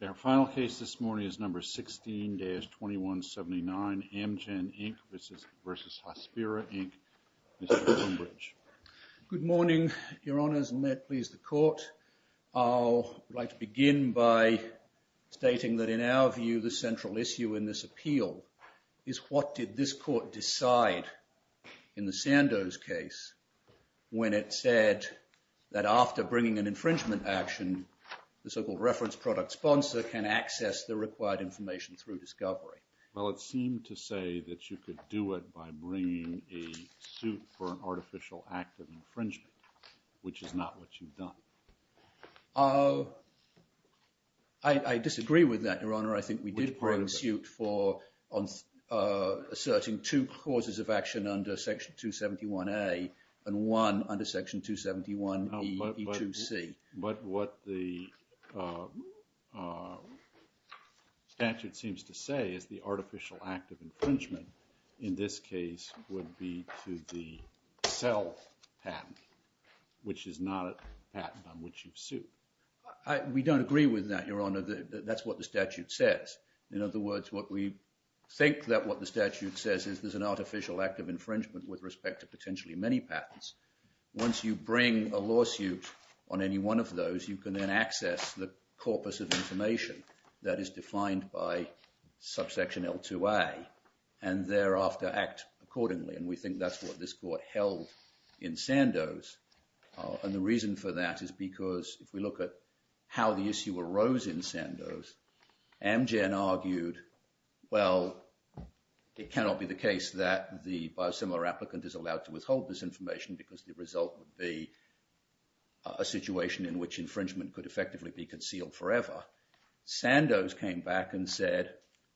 Their final case this morning is number 16-2179, Amgen, Inc. versus Hospira, Inc., Mr. Cumberidge. Good morning, your honors, and may it please the court. I'd like to begin by stating that in our view, the central issue in this appeal is what did this court decide in the Sandoz case when it said that after bringing an infringement action, the so-called reference product sponsor can access the required information through discovery? Well, it seemed to say that you could do it by bringing a suit for an artificial act of infringement, which is not what you've done. I disagree with that, your honor. I think we did bring a suit for asserting two causes of action under Section 271A and one under Section 271E2C. But what the statute seems to say is the artificial act of infringement in this case would be to the cell patent, which is not a patent on which you've sued. We don't agree with that, your honor. That's what the statute says. In other words, what we think that what the statute says is there's an artificial act of infringement with respect to potentially many patents. Once you bring a lawsuit on any one of those, you can then access the corpus of information that is defined by subsection L2A and thereafter act accordingly. And we think that's what this court held in Sandoz. And the reason for that is because if we look at how the issue arose in Sandoz, Amgen argued, well, it cannot be the case that the biosimilar applicant is allowed to withhold this information because the result would be a situation in which infringement could effectively be concealed forever. Sandoz came back and said,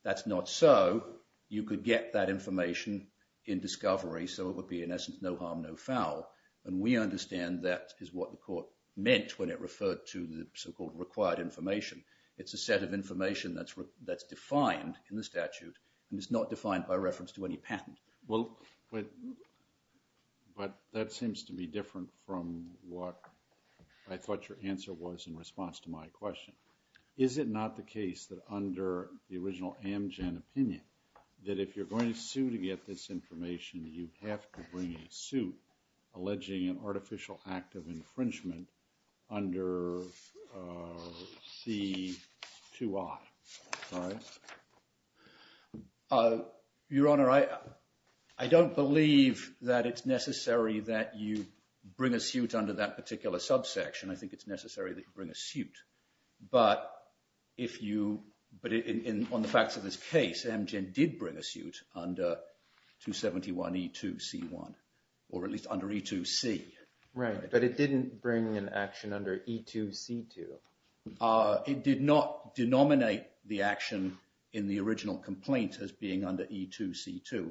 that's not so. You could get that information in discovery so it would be, in essence, no harm, no foul. And we understand that is what the court meant when it referred to the so-called required information. It's a set of information that's defined in the statute and it's not defined by reference to any patent. Well, but that seems to be different from what I thought your answer was in response to my question. Is it not the case that under the original Amgen opinion that if you're going to sue to get this information, you have to bring a suit alleging an artificial act of infringement under C2I, right? Your Honor, I don't believe that it's necessary that you bring a suit under that particular subsection. I think it's necessary that you bring a suit. But if you, but on the facts of this case, Amgen did bring a suit under 271E2C1 or at least under E2C. Right, but it didn't bring an action under E2C2. It did not denominate the action in the original complaint as being under E2C2.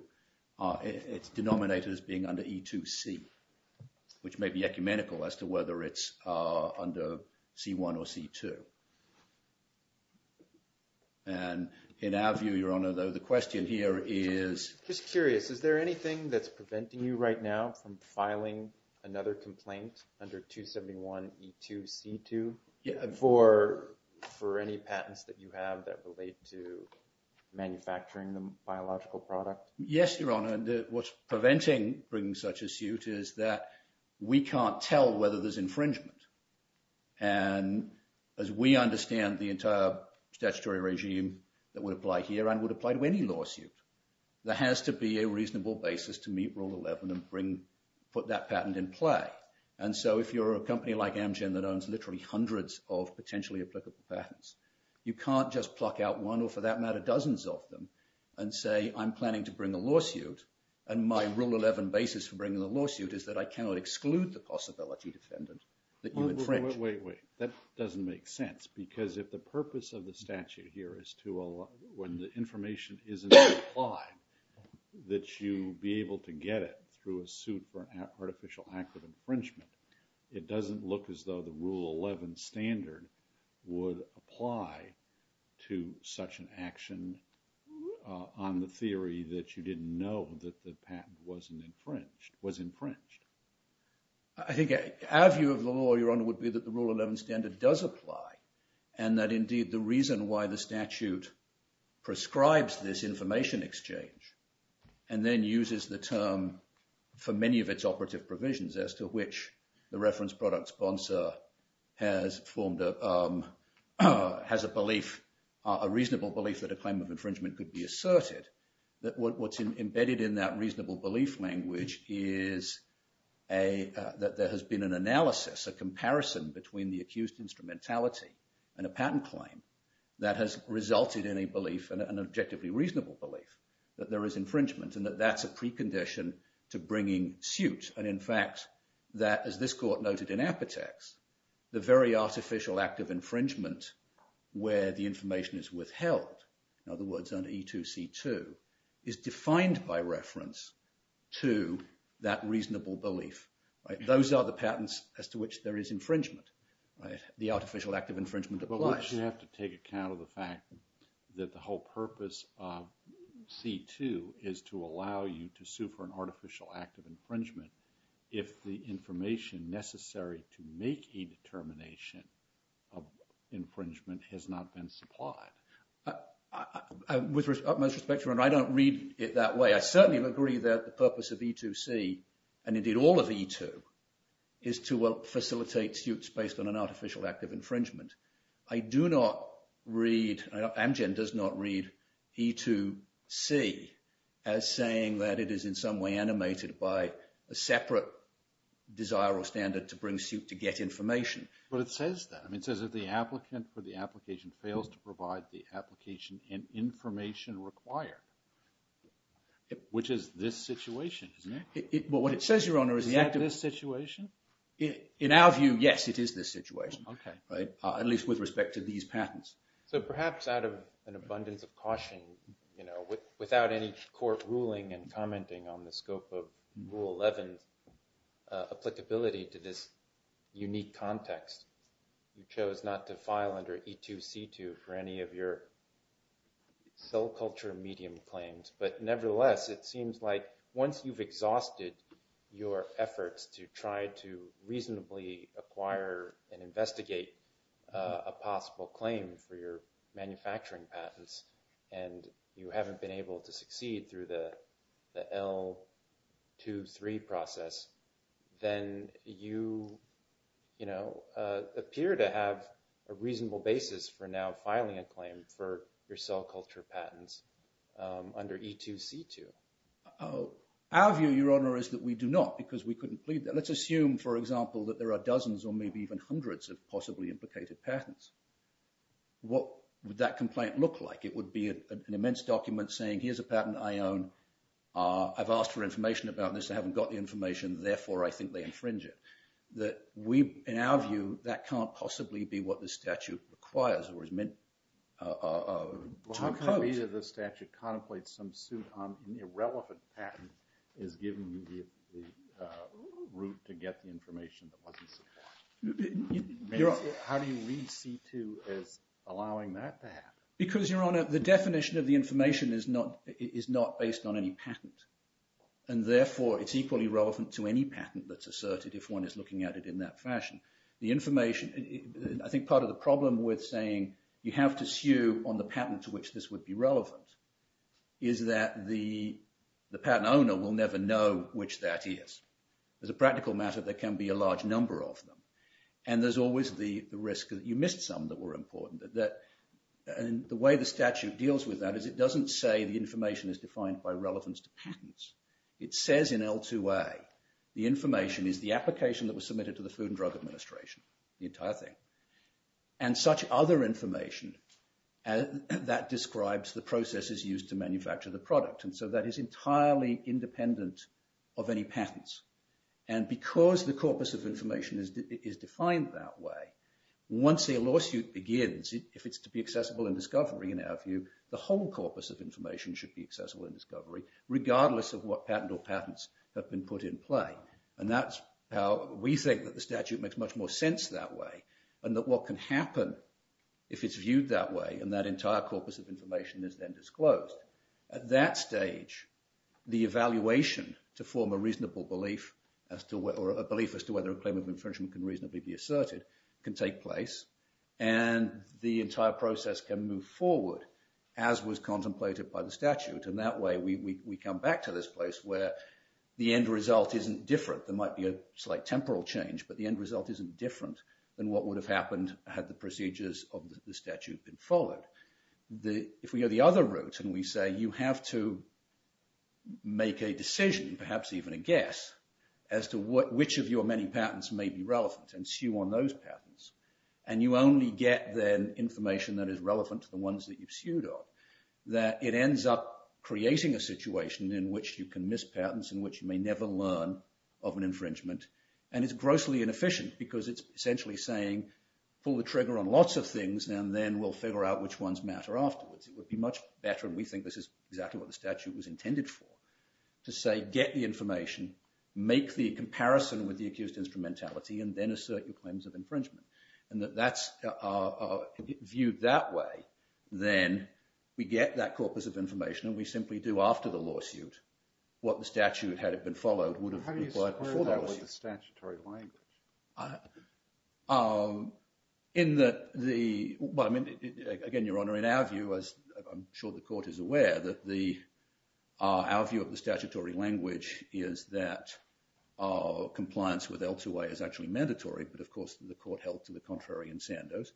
It's denominated as being under E2C, which may be ecumenical as to whether it's under C1 or C2. And in our view, Your Honor, though, the question here is. Just curious, is there anything that's preventing you right now from filing another complaint under 271E2C2? For any patents that you have that relate to manufacturing the biological product? Yes, Your Honor, and what's preventing bringing such a suit is that we can't tell whether there's infringement. And as we understand the entire statutory regime that would apply here and would apply to any lawsuit, there has to be a reasonable basis to meet Rule 11 and bring, put that patent in play. And so if you're a company like Amgen that owns literally hundreds of potentially applicable patents, you can't just pluck out one or for that matter dozens of them and say, I'm planning to bring a lawsuit and my Rule 11 basis for bringing the lawsuit is that I cannot exclude the possibility defendant that you infringed. Wait, wait, wait, that doesn't make sense. Because if the purpose of the statute here is to allow, when the information isn't implied, that you be able to get it through a suit for an artificial act of infringement, it doesn't look as though the Rule 11 standard would apply to such an action on the theory that you didn't know that the patent wasn't infringed, was infringed. I think our view of the law, Your Honor, would be that the Rule 11 standard does apply and that indeed the reason why the statute prescribes this information exchange and then uses the term for many of its operative provisions as to which the reference product sponsor has formed a, has a belief, a reasonable belief that a claim of infringement could be asserted, that what's embedded in that reasonable belief language is a, that there has been an analysis, a comparison between the accused instrumentality and a patent claim that has resulted in a belief, an objectively reasonable belief that there is infringement and that that's a precondition to bringing suit. And in fact, that as this court noted in Apotex, the very artificial act of infringement where the information is withheld, in other words, under E2C2, is defined by reference to that reasonable belief, right? Those are the patents as to which there is infringement, right? The artificial act of infringement applies. But you have to take account of the fact that the whole purpose of C2 is to allow you to sue for an artificial act of infringement if the information necessary to make a determination of infringement has not been supplied. With utmost respect, Your Honor, I don't read it that way. I certainly agree that the purpose of E2C and indeed all of E2 is to facilitate suits based on an artificial act of infringement. I do not read, Amgen does not read E2C as saying that it is in some way animated by a separate desire or standard to bring suit to get information. But it says that. I mean, it says that the applicant for the application fails to provide the application and information required, which is this situation, isn't it? Well, what it says, Your Honor, is the act of this situation. In our view, yes, it is this situation. Okay. Right? At least with respect to these patents. So perhaps out of an abundance of caution, you know, without any court ruling and commenting on the scope of Rule 11, applicability to this unique context, you chose not to file under E2C2 for any of your cell culture medium claims. But nevertheless, it seems like once you've exhausted your efforts to try to reasonably acquire and investigate a possible claim for your manufacturing patents and you haven't been able to succeed through the L2C3 process, then you, you know, appear to have a reasonable basis for now filing a claim for your cell culture patents under E2C2. Our view, Your Honor, is that we do not because we couldn't plead that. Let's assume, for example, that there are dozens or maybe even hundreds of possibly implicated patents. What would that complaint look like? It would be an immense document saying, here's a patent I own. I've asked for information about this. I haven't got the information. Therefore, I think they infringe it. That we, in our view, that can't possibly be what the statute requires or is meant to impose. So either the statute contemplates some suit on irrelevant patent is giving you the route to get the information that wasn't submitted. How do you read C2 as allowing that to happen? Because, Your Honor, the definition of the information is not based on any patent. And therefore, it's equally relevant to any patent that's asserted if one is looking at it in that fashion. The information, I think part of the problem with saying you have to sue on the patent to which this would be relevant is that the patent owner will never know which that is. As a practical matter, there can be a large number of them. And there's always the risk that you missed some that were important. And the way the statute deals with that is it doesn't say the information is defined by relevance to patents. It says in L2A, the information is the application that was submitted to the Food and Drug Administration, the entire thing. And such other information that describes the processes used to manufacture the product. And so that is entirely independent of any patents. And because the corpus of information is defined that way, once a lawsuit begins, if it's to be accessible in discovery, in our view, the whole corpus of information should be accessible in discovery regardless of what patent or patents have been put in play. And that's how we think that the statute makes much more sense that way. And that what can happen if it's viewed that way and that entire corpus of information is then disclosed. At that stage, the evaluation to form a reasonable belief as to whether a claim of infringement can reasonably be asserted can take place. And the entire process can move forward as was contemplated by the statute. And that way, we come back to this place where the end result isn't different. There might be a slight temporal change, but the end result isn't different than what would have happened had the procedures of the statute been followed. If we go the other route and we say you have to make a decision, perhaps even a guess, as to which of your many patents may be relevant and sue on those patents, and you only get then information that is relevant to the ones that you've sued on, that it ends up creating a situation in which you can miss patents and which you may never learn of an infringement. And it's grossly inefficient because it's essentially saying pull the trigger on lots of things and then we'll figure out which ones matter afterwards. It would be much better, and we think this is exactly what the statute was intended for, to say get the information, make the comparison with the accused instrumentality and then assert your claims of infringement. And if that's viewed that way, then we get that corpus of information and we simply do after the lawsuit what the statute, had it been followed, would have required before the lawsuit. How do you square that with the statutory language? Again, Your Honor, in our view, as I'm sure the court is aware, our view of the statutory language is that compliance with L2A is actually mandatory, but of course the court held to the contrary in Sandoz.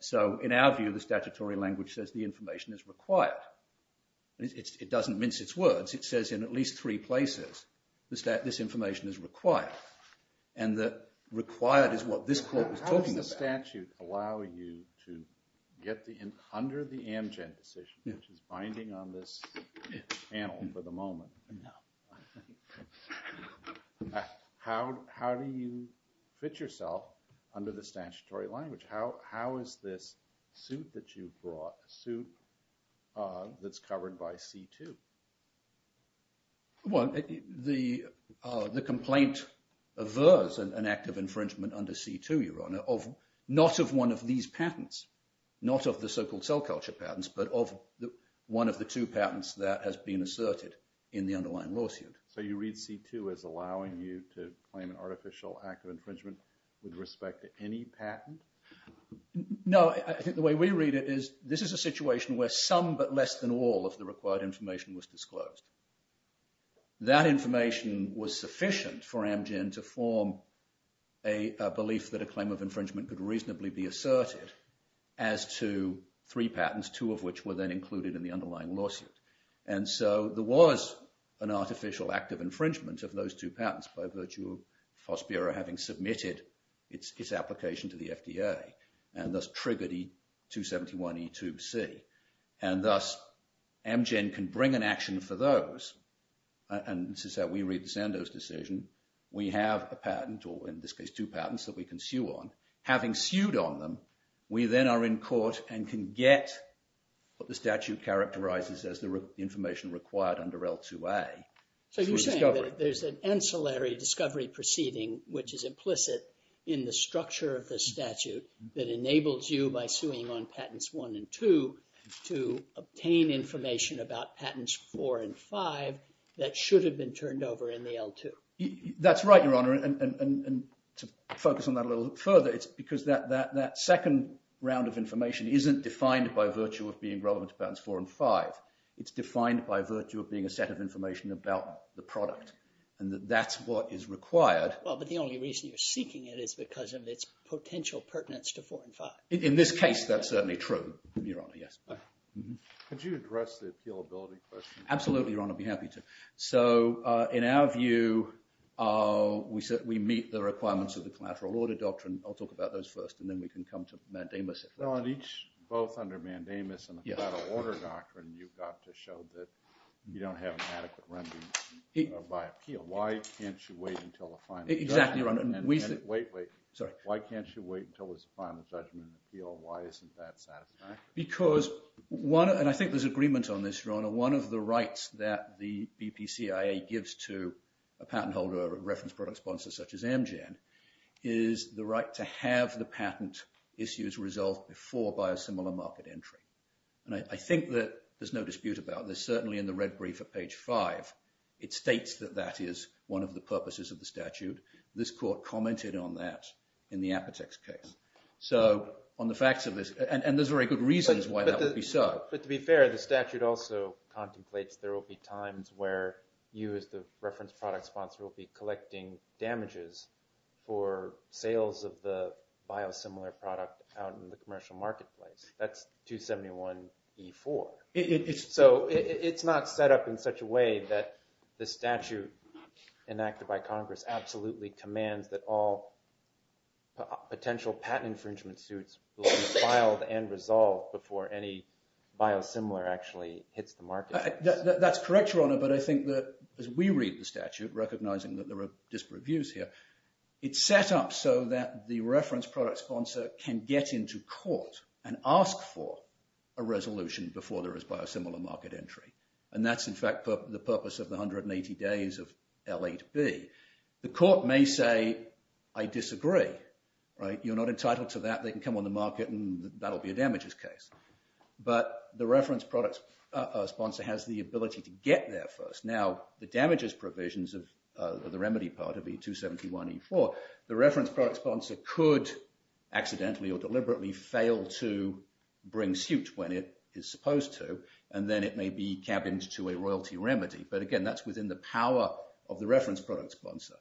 So in our view, the statutory language says the information is required. It doesn't mince its words. It says in at least three places this information is required. And the required is what this court was talking about. How does the statute allow you to get under the Amgen decision, which is binding on this panel for the moment, No. How do you fit yourself under the statutory language? How is this suit that you brought, a suit that's covered by C2? Well, the complaint averse, an act of infringement under C2, Your Honor, of not of one of these patents, not of the so-called cell culture patents, but of one of the two patents that has been asserted in the underlying lawsuit. So you read C2 as allowing you to claim an artificial act of infringement with respect to any patent? No, I think the way we read it is this is a situation where some but less than all of the required information was disclosed. That information was sufficient for Amgen to form a belief that a claim of infringement could reasonably be asserted as to three patents, two of which were then included in the underlying lawsuit. And so there was an artificial act of infringement of those two patents by virtue of FOSPIRA having submitted its application to the FDA and thus triggered E271E2C. And thus Amgen can bring an action for those. And this is how we read the Sandoz decision. We have a patent or in this case two patents that we can sue on. Having sued on them, we then are in court and can get what the statute characterizes as the information required under L2A. So you're saying that there's an ancillary discovery proceeding which is implicit in the structure of the statute that enables you by suing on patents one and two to obtain information about patents four and five That's right, Your Honor. And to focus on that a little further, it's because that second round of information isn't defined by virtue of being relevant to patents four and five. It's defined by virtue of being a set of information about the product. And that's what is required. Well, but the only reason you're seeking it is because of its potential pertinence to four and five. In this case, that's certainly true, Your Honor. Could you address the appealability question? Absolutely, Your Honor. I'd be happy to. So in our view, we meet the requirements of the collateral order doctrine. I'll talk about those first, and then we can come to Mandamus. Well, both under Mandamus and the collateral order doctrine, you've got to show that you don't have an adequate remedy by appeal. Why can't you wait until the final judgment? Exactly, Your Honor. Wait, wait. Why can't you wait until there's a final judgment appeal? Why isn't that satisfactory? Because, and I think there's agreement on this, Your Honor, one of the rights that the BPCIA gives to a patent holder or a reference product sponsor such as Amgen is the right to have the patent issues resolved before by a similar market entry. And I think that there's no dispute about this. Certainly in the red brief at page five, it states that that is one of the purposes of the statute. This court commented on that in the Apotex case. So on the facts of this, and there's very good reasons why that would be so. But to be fair, the statute also contemplates there will be times where you as the reference product sponsor will be collecting damages for sales of the biosimilar product out in the commercial marketplace. That's 271E4. So it's not set up in such a way that the statute enacted by Congress absolutely commands that all potential patent infringement suits will be filed and resolved before any biosimilar actually hits the market. That's correct, Your Honor. But I think that as we read the statute, recognizing that there are disparate views here, it's set up so that the reference product sponsor can get into court and ask for a resolution before there is biosimilar market entry. And that's in fact the purpose of the 180 days of L8B. The court may say, I disagree. You're not entitled to that. They can come on the market and that'll be a damages case. But the reference product sponsor has the ability to get there first. Now, the damages provisions of the remedy part of the 271E4, the reference product sponsor could accidentally or deliberately fail to bring suit when it is supposed to and then it may be cabined to a royalty remedy. But again, that's within the power of the reference product sponsor.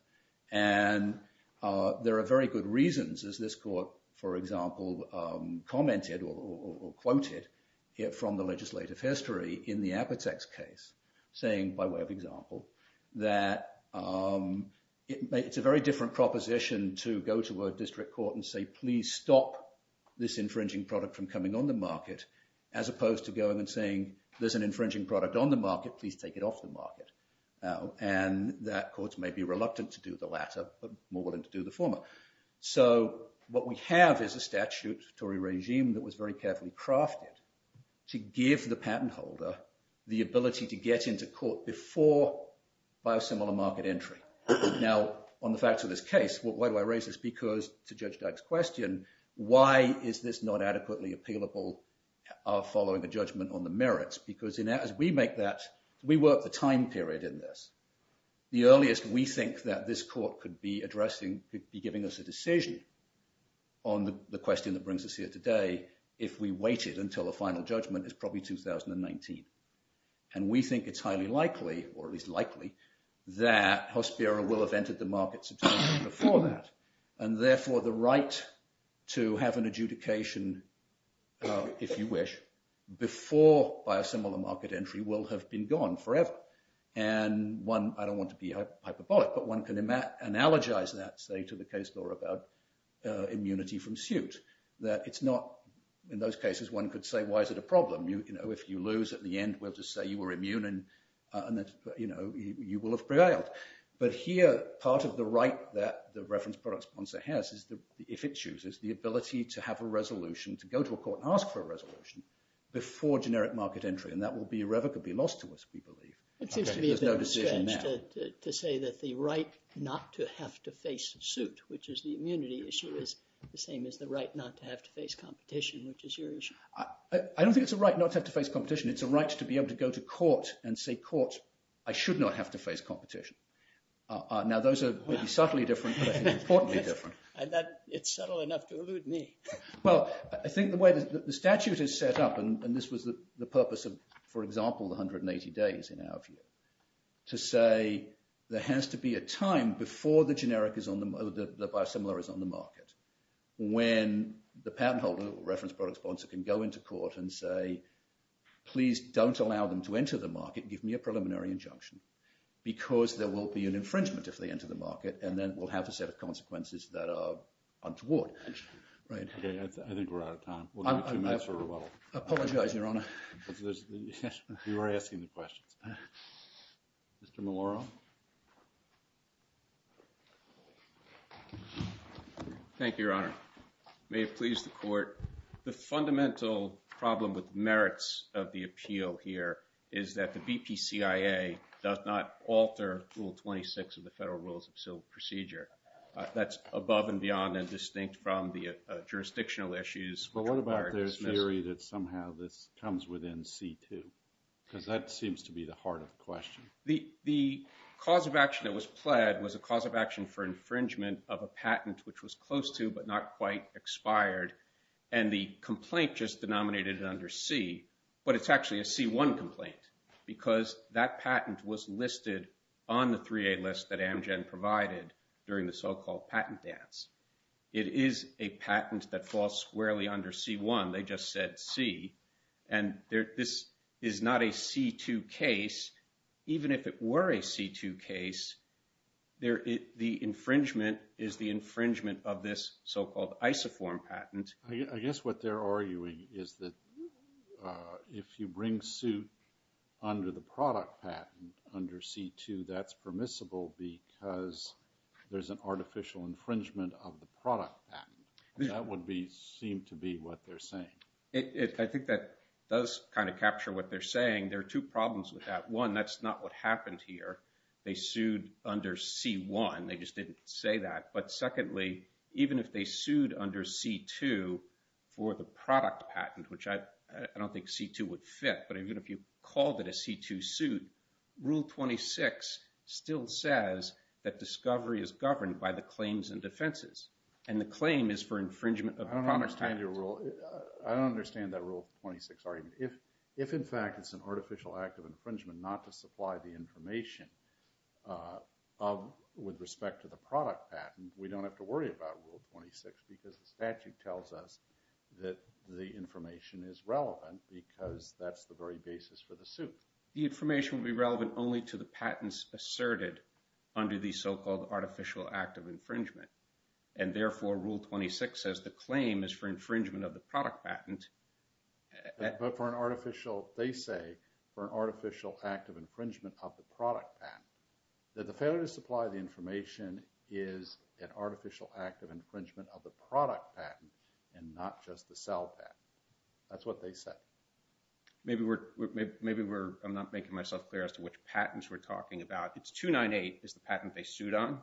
And there are very good reasons as this court, for example, commented or quoted from the legislative history in the Apotex case, saying, by way of example, that it's a very different proposition to go to a district court and say, please stop this infringing product from coming on the market as opposed to going and saying, there's an infringing product on the market, And that courts may be reluctant to do the latter more than to do the former. So, what we have is a statutory regime that was very carefully crafted to give the patent holder the ability to get into court before biosimilar market entry. Now, on the facts of this case, why do I raise this? Because, to Judge Dyke's question, why is this not adequately appealable following a judgment on the merits? Because as we make that, we work the time period in this. The earliest we think that this court could be addressing could be giving us a decision on the question that brings us here today if we waited until the final judgment is probably 2019. And we think it's highly likely or at least likely, that Hospiro will have entered the market before that, and therefore the right to have an adjudication if you wish, before biosimilar market entry will have been gone forever. And one, I don't want to be hyperbolic, but one can analogize that, say, to the case about immunity from suit. That it's not, in those cases, one could say, why is it a problem? If you lose, at the end, we'll just say you were immune and you will have prevailed. But here, part of the right that the reference product sponsor has is that if it chooses, the ability to have a resolution to go to a court and ask for a resolution before generic market entry, and that will be irrevocably lost to us, we believe. It seems to me a bit strange to say that the right not to have to face suit, which is the immunity issue, is the same as the right not to have to face competition, which is your issue. I don't think it's a right not to have to face competition. It's a right to be able to go to court and say, court, I should not have to face competition. Now those are subtly different but importantly different. It's subtle enough to elude me. Well, I think the way the statute is for example, 180 days in our view, to say there has to be a time before the generic is on the market, the biosimilar is on the market, when the patent holder or reference product sponsor can go into court and say please don't allow them to enter the market, give me a preliminary injunction because there will be an infringement if they enter the market and then we'll have a set of consequences that are untoward. I think we're out of time. We'll give you two minutes for rebuttal. I apologize, Your Honor. You were asking the questions. Mr. Maloroff. Thank you, Your Honor. May it please the court. The fundamental problem with merits of the appeal here is that the BPCIA does not alter Rule 26 of the Federal Rules of Civil Procedure. That's above and beyond and distinct from the But there's theory that somehow this comes within C2 because that seems to be the heart of the question. The cause of action that was pled was a cause of action for infringement of a patent which was close to but not quite expired and the complaint just denominated it under C, but it's actually a C1 complaint because that patent was listed on the 3A list that Amgen provided during the so-called patent dance. It is a C1. They just said C and this is not a C2 case. Even if it were a C2 case, the infringement is the infringement of this so-called isoform patent. I guess what they're arguing is that if you bring suit under the product patent under C2 that's permissible because there's an artificial infringement of the product patent. That would seem to be what they're saying. I think that does kind of capture what they're saying. There are two problems with that. One, that's not what happened here. They sued under C1. They just didn't say that, but secondly even if they sued under C2 for the product patent which I don't think C2 would fit, but even if you called it a C2 suit, Rule 26 still says that discovery is governed by the claims and defenses and the claim is for infringement of the product patent. I don't understand that Rule 26 argument. If in fact it's an artificial act of infringement not to supply the information with respect to the product patent, we don't have to worry about Rule 26 because the statute tells us that the information is relevant because that's the very basis for the suit. The information will be relevant only to the patents asserted under the so-called artificial act of infringement and therefore Rule 26 says the claim is for infringement of the product patent but for an artificial, they say for an artificial act of infringement of the product patent. The failure to supply the information is an artificial act of infringement of the product patent and not just the sell patent. That's what they said. Maybe we're, I'm not making myself clear as to which patents we're talking about. It's 298 is the patent they sued on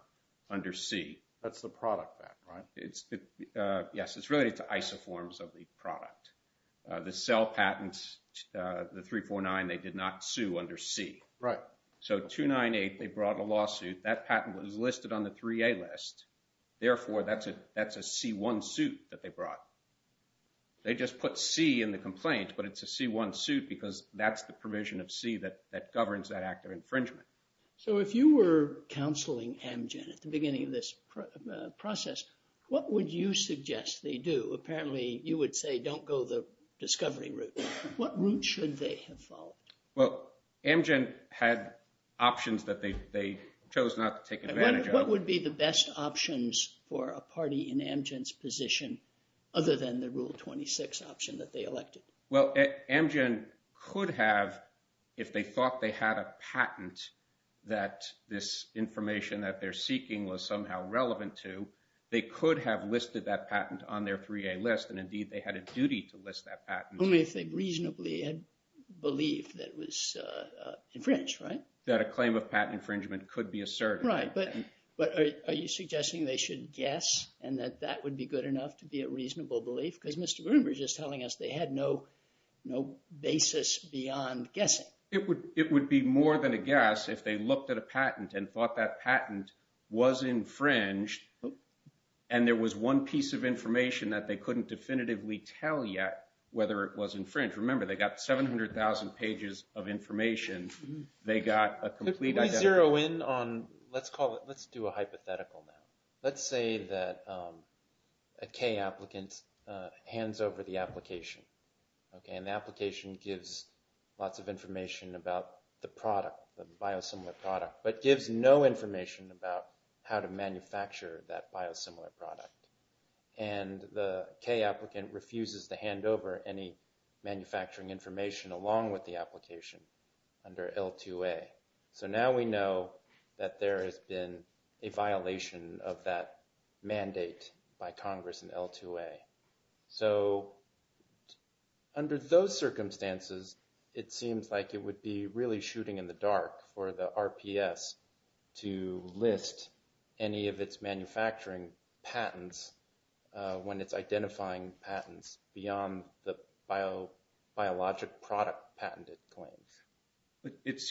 under C. That's the product patent, right? Yes, it's related to isoforms of the product. The sell patent, the 349 they did not sue under C. So 298, they brought a lawsuit, that patent was listed on the 3A list, therefore that's a C1 suit that they brought. They just put C in the complaint but it's a C1 suit because that's the provision of C that governs that act of infringement. So if you were counseling Amgen at the beginning of this process, what would you suggest they do? Apparently you would say don't go the discovery route. What route should they have followed? Well, Amgen had options that they chose not to take advantage of. What would be the best options for a party in Amgen's position other than the Rule 26 option that they elected? Well, Amgen could have, if they thought they had a patent that this information that they're seeking was somehow relevant to, they could have listed that patent on their 3A list and indeed they had a duty to list that patent. Only if they reasonably had belief that it was infringed, right? That a claim of patent infringement could be asserted. Right, but are you suggesting they should guess and that that would be good enough to be a reasonable belief? Because Mr. Bloomberg is telling us they had no basis beyond guessing. It would be more than a guess if they looked at a patent and thought that patent was infringed and there was one piece of information that they couldn't definitively tell yet whether it was infringed. Remember, they got 700,000 pages of information. They got a complete identity. Let me zero in on let's call it, let's do a hypothetical now. Let's say that a K applicant hands over the application and the application gives lots of information about the product, the biosimilar product but gives no information about how to manufacture that biosimilar product and the K applicant refuses to hand over any manufacturing information along with the application under L2A. So now we know that there has been a violation of that mandate by Congress in L2A. So under those circumstances it seems like it would be really shooting in the dark for the RPS to list any of its manufacturing patents when it's identifying patents beyond the biologic product patented claims. Is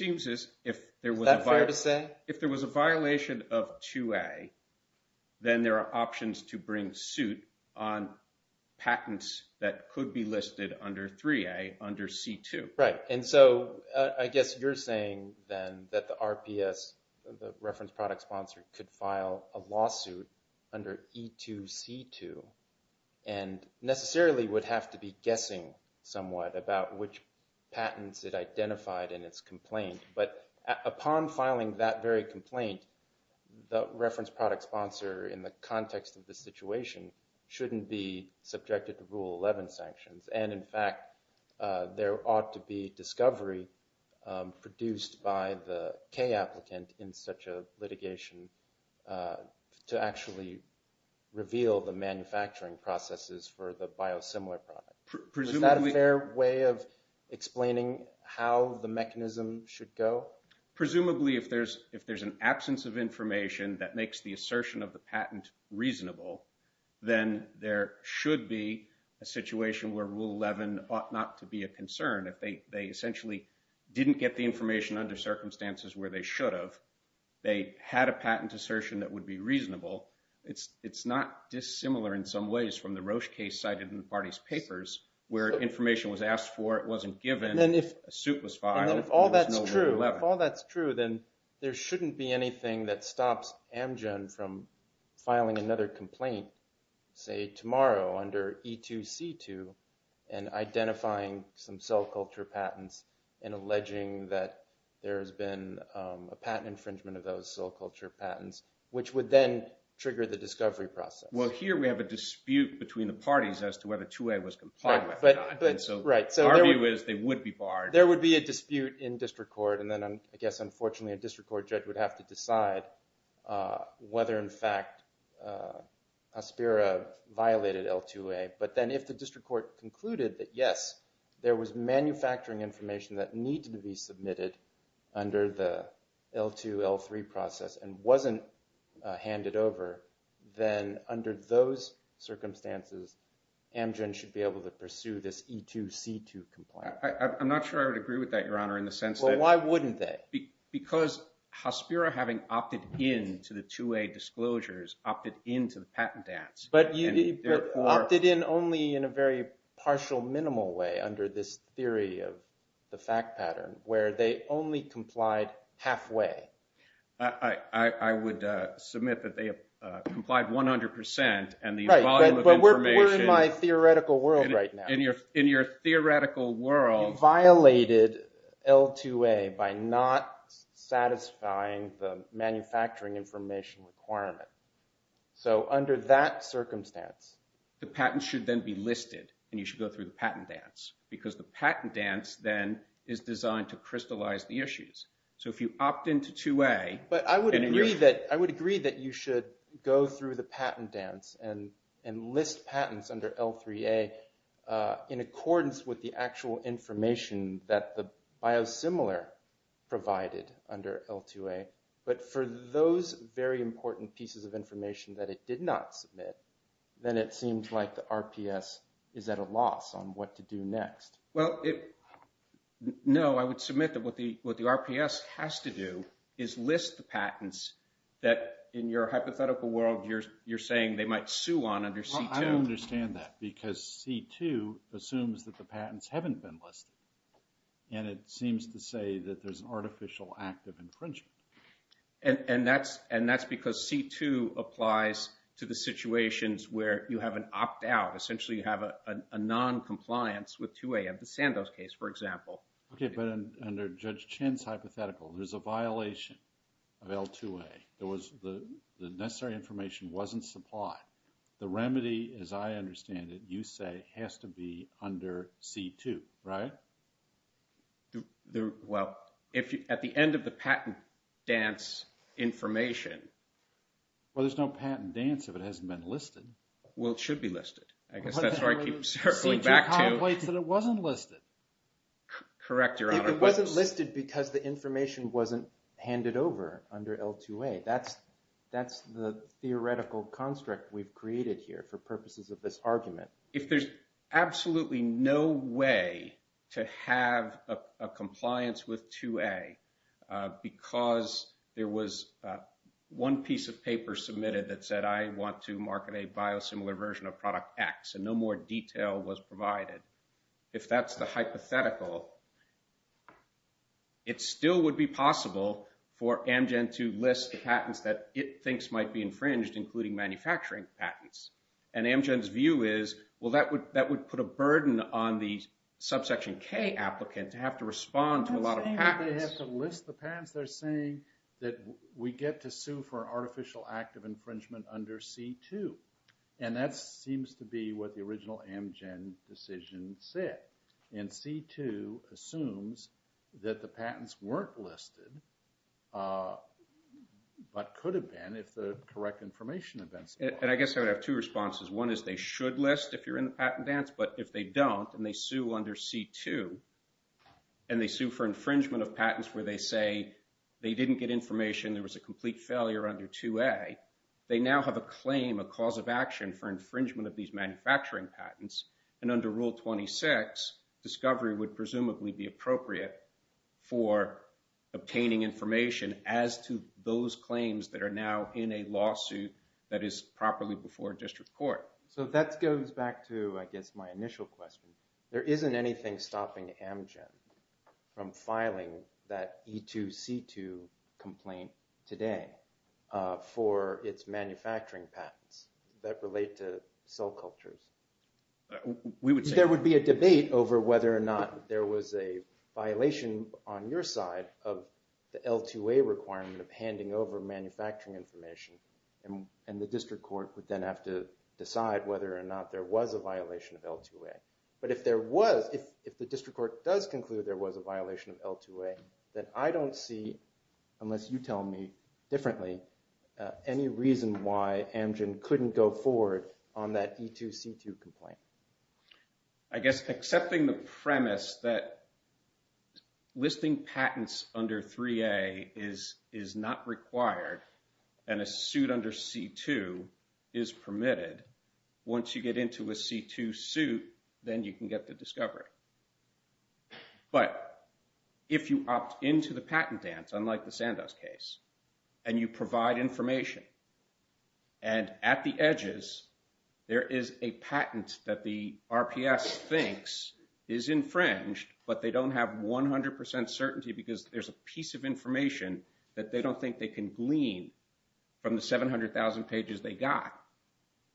that fair to say? If there was a violation of 2A then there are options to bring suit on patents that could be listed under 3A under C2. Right, and so I guess you're saying then that the RPS the reference product sponsor could file a lawsuit under E2C2 and necessarily would have to be guessing somewhat about which patents it identified in its complaint but upon filing that very complaint the reference product sponsor in the context of the situation shouldn't be subjected to Rule 11 sanctions and in fact there ought to be discovery produced by the K applicant in such a litigation to actually reveal the manufacturing processes for the biosimilar product. Is that a fair way of explaining how the mechanism should go? Presumably if there's an absence of information that makes the assertion of the patent reasonable then there should be a situation where Rule 11 ought not to be a concern if they essentially didn't get the information under circumstances where they should have, they had a patent assertion that would be reasonable it's not dissimilar in some ways from the Roche case cited in the party's papers where information was asked for, it wasn't given, a suit was filed, if all that's true then there shouldn't be anything that stops Amgen from filing another complaint say tomorrow under E2C2 and identifying some cell culture patents and alleging that there's been a patent infringement of those cell culture patents which would then trigger the discovery process. Well here we have a dispute between the parties as to whether 2A was compliant so the argument is they would be barred. There would be a dispute in district court and then I guess unfortunately a district court judge would have to decide whether in fact Aspera violated L2A but then if the district court concluded that yes there was manufacturing information that needed to be submitted under the L2 L3 process and wasn't handed over then under those circumstances Amgen should be able to pursue this E2C2 complaint. I'm not sure I would agree with that your honor in the sense Well why wouldn't they? Because Aspera having opted in to the 2A disclosures opted in to the patent dance But opted in only in a very partial minimal way under this theory of the fact pattern where they only complied halfway I would submit that they complied 100% Right but we're in my theoretical world right now In your theoretical world violated L2A by not satisfying the manufacturing information requirement so under that circumstance the patent should then be listed and you should go through the patent dance because the patent dance then is designed to crystallize the issues so if you opt in to 2A But I would agree that you should go through the patent dance and list patents under L3A in accordance with the actual information that the biosimilar provided under L2A but for those very important pieces of information that it did not submit then it seems like the RPS is at a loss on what to do next No I would submit that what the RPS has to do is list the patents that in your hypothetical world you're saying they might sue on under C2 I don't understand that because C2 assumes that the patents haven't been listed and it seems to say that there's an artificial act of infringement and that's because C2 applies to the situations where you have an opt out essentially you have a non-compliance with 2A of the Sandoz case for example Okay but under Judge Chin's hypothetical there's a violation of L2A there was the necessary information wasn't supplied the remedy as I understand it you say has to be under C2 right? Well at the end of the patent dance information Well there's no patent dance if it hasn't been listed Well it should be listed I guess that's where I keep circling back to C2 contemplates that it wasn't listed Correct your honor If it wasn't listed because the information wasn't handed over under L2A that's the theoretical construct we've created here for purposes of this argument If there's absolutely no way to have a compliance with 2A because there was one piece of paper submitted that said I want to market a biosimilar version of product X and no more detail was provided if that's the hypothetical it still would be possible for Amgen to list the patents that it thinks might be infringed including manufacturing patents and Amgen's view is well that would put a burden on the subsection K applicant to have to respond to a lot of patents They have to list the patents they're saying that we get to sue for artificial act of infringement under C2 and that seems to be what the original Amgen decision said and C2 assumes that the patents weren't listed but could have been if the correct information events I guess I would have two responses one is they should list if you're in the patent dance but if they don't and they sue under C2 and they sue for infringement of patents where they say they didn't get information there was a complete failure under 2A they now have a claim a cause of action for infringement of these manufacturing patents and under rule 26 discovery would presumably be appropriate for obtaining information as to those claims that are now in a lawsuit that is properly before district court. So that goes back to I guess my initial question there isn't anything stopping Amgen from filing that E2C2 complaint today for its manufacturing patents that relate to cell cultures. There would be a debate over whether or not there was a violation on your side of the L2A requirement of handing over manufacturing information and the district court would then have to decide whether or not there was a violation of L2A but if there was if the district court does conclude there was a violation of L2A then I don't see unless you tell me differently any reason why Amgen couldn't go forward on that E2C2 complaint. I guess accepting the premise that listing patents under 3A is not required and a suit under C2 is permitted once you get into a C2 suit then you can get the discovery. But if you opt into the patent dance unlike the Sandoz case and you provide information and at the edges there is a patent that the RPS thinks is infringed but they don't have 100% certainty because there's a piece of information that they don't think they can glean from the 700,000 pages they got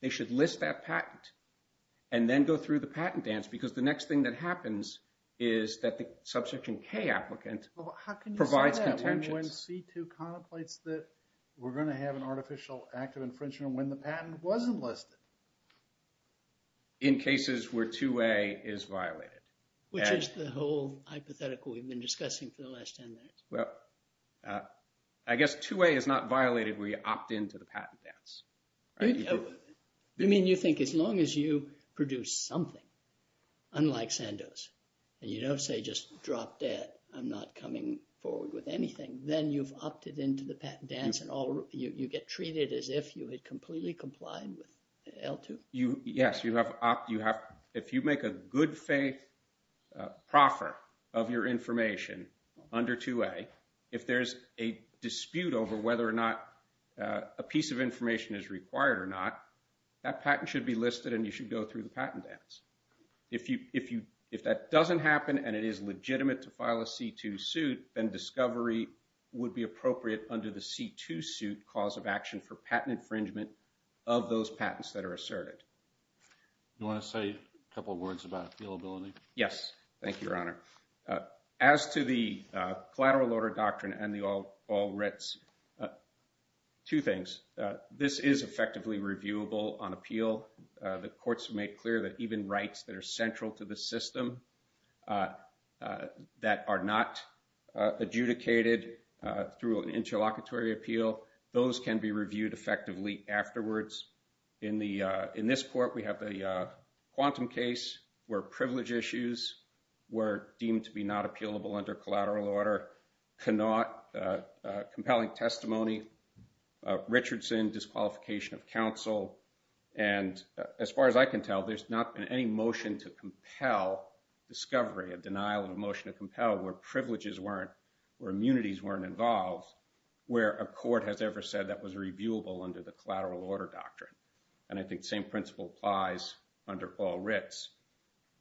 they should list that patent and then go through the patent dance because the next thing that happens is that the subsequent K applicant provides contention. How can you say that when C2 contemplates that we're going to have an artificial active infringement when the patent was enlisted? In cases where 2A is violated. Which is the whole hypothetical we've been discussing for the last 10 minutes. I guess 2A is not violated where you opt into the patent dance. You mean you think as long as you produce something unlike Sandoz and you don't say just drop dead I'm not coming forward with anything then you've opted into the patent dance and you get treated as if you had completely complied with L2? Yes. If you make a good faith proffer of your information under 2A if there's a dispute over whether or not a piece of information is required or not that patent should be listed and you should go through the patent dance. If that doesn't happen and it is legitimate to file a C2 suit then discovery would be appropriate under the C2 suit cause of action for patent infringement of those patents that are asserted. You want to say a couple words about appealability? Yes. Thank you your honor. As to the collateral order doctrine and the all writs. Two things. This is effectively reviewable on appeal. The courts have made clear that even rights that are central to the system that are not adjudicated through an interlocutory appeal those can be reviewed effectively afterwards. In this court we have the quantum case where privilege issues were deemed to be not appealable under collateral order compelling testimony Richardson disqualification of counsel and as far as I can tell there's not been any motion to compel discovery, a denial of motion to compel where privileges weren't where immunities weren't involved where a court has ever said that was reviewable under the collateral order doctrine and I think the same principle applies under all writs.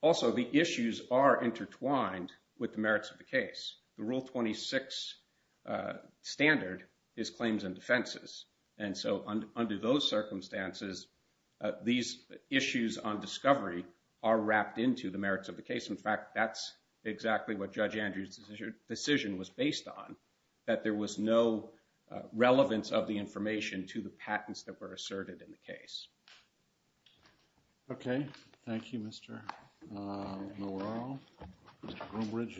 Also the issues are intertwined with the merits of the case. The rule 26 standard is claims and defenses and so under those circumstances these issues on discovery are wrapped into the merits of the case. In fact that's exactly what Judge Andrews decision was based on. That there was no relevance of the information to the patents that were asserted in the case. Okay. Thank you Mr. Norrell. Mr. Groombridge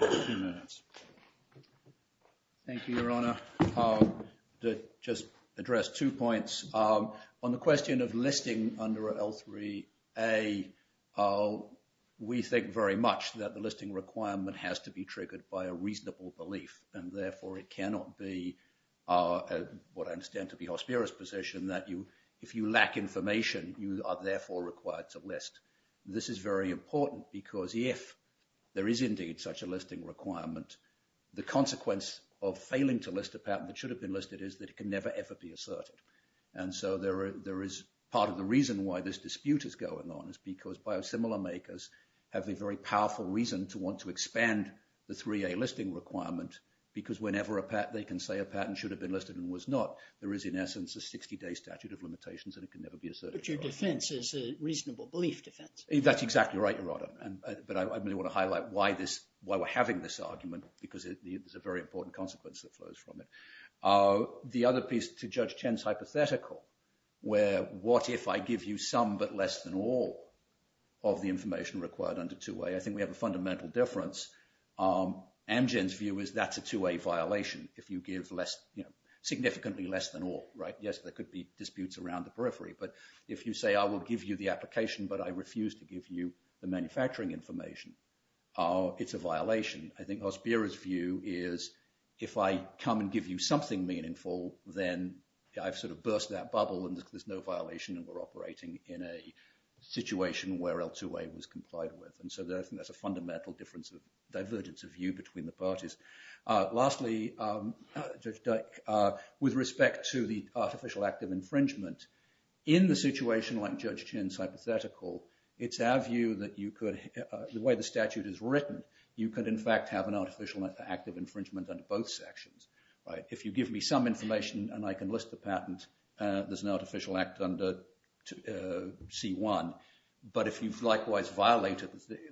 Thank you Your Honor. To just address two points. On the question of listing under L3A we think very much that the listing requirement has to be triggered by a reasonable belief and therefore it cannot be what I understand to be hosperous position that if you lack information you are therefore required to list. This is very important because if there is indeed such a listing requirement the consequence of failing to list a patent that should have been listed is that it can never ever be asserted. And so there is part of the reason why this dispute is going on is because biosimilar makers have a very powerful reason to want to expand the 3A listing requirement because whenever they can say a patent should have been listed and was not there is in essence a 60 day statute of limitations and it can never be asserted. But your defense is a reasonable belief defense. That's exactly right. I want to highlight why we're having this argument because it's a very important consequence that flows from it. The other piece to Judge Chen's hypothetical where what if I give you some but less than all of the information required under 2A. I think we have a fundamental difference. Amgen's view is that's a 2A violation if you give significantly less than all. Yes there could be disputes around the periphery but if you say I will give you the application but I refuse to give you the manufacturing information it's a violation. I think Ospera's view is if I come and give you something meaningful then I've sort of burst that bubble and there's no violation and we're operating in a situation where L2A was complied with. And so I think that's a fundamental divergence of view between the parties. Lastly Judge Dyke, with respect to the artificial active infringement in the situation like Judge Chen's hypothetical, it's our view that you could, the way the statute is written, you could in fact have an artificial active infringement under both sections. If you give me some information and I can list the patent there's an artificial act under C1 but if you've likewise violated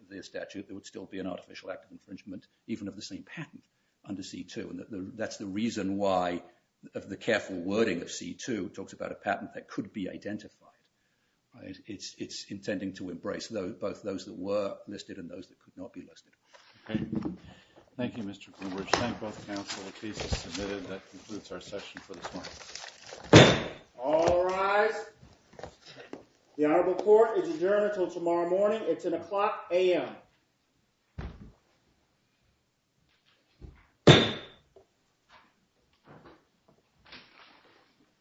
the statute there would still be an artificial act of infringement even of the same patent under C2 and that's the reason why of the careful wording of C2 talks about a patent that could be identified. It's intending to embrace both those that were listed and those that could not be listed. Thank you Mr. Bloomberg. Thank both counsel the case is submitted. That concludes our session for this morning. All rise. The Honorable Court is adjourned until tomorrow morning. It's an o'clock a.m. Thank you.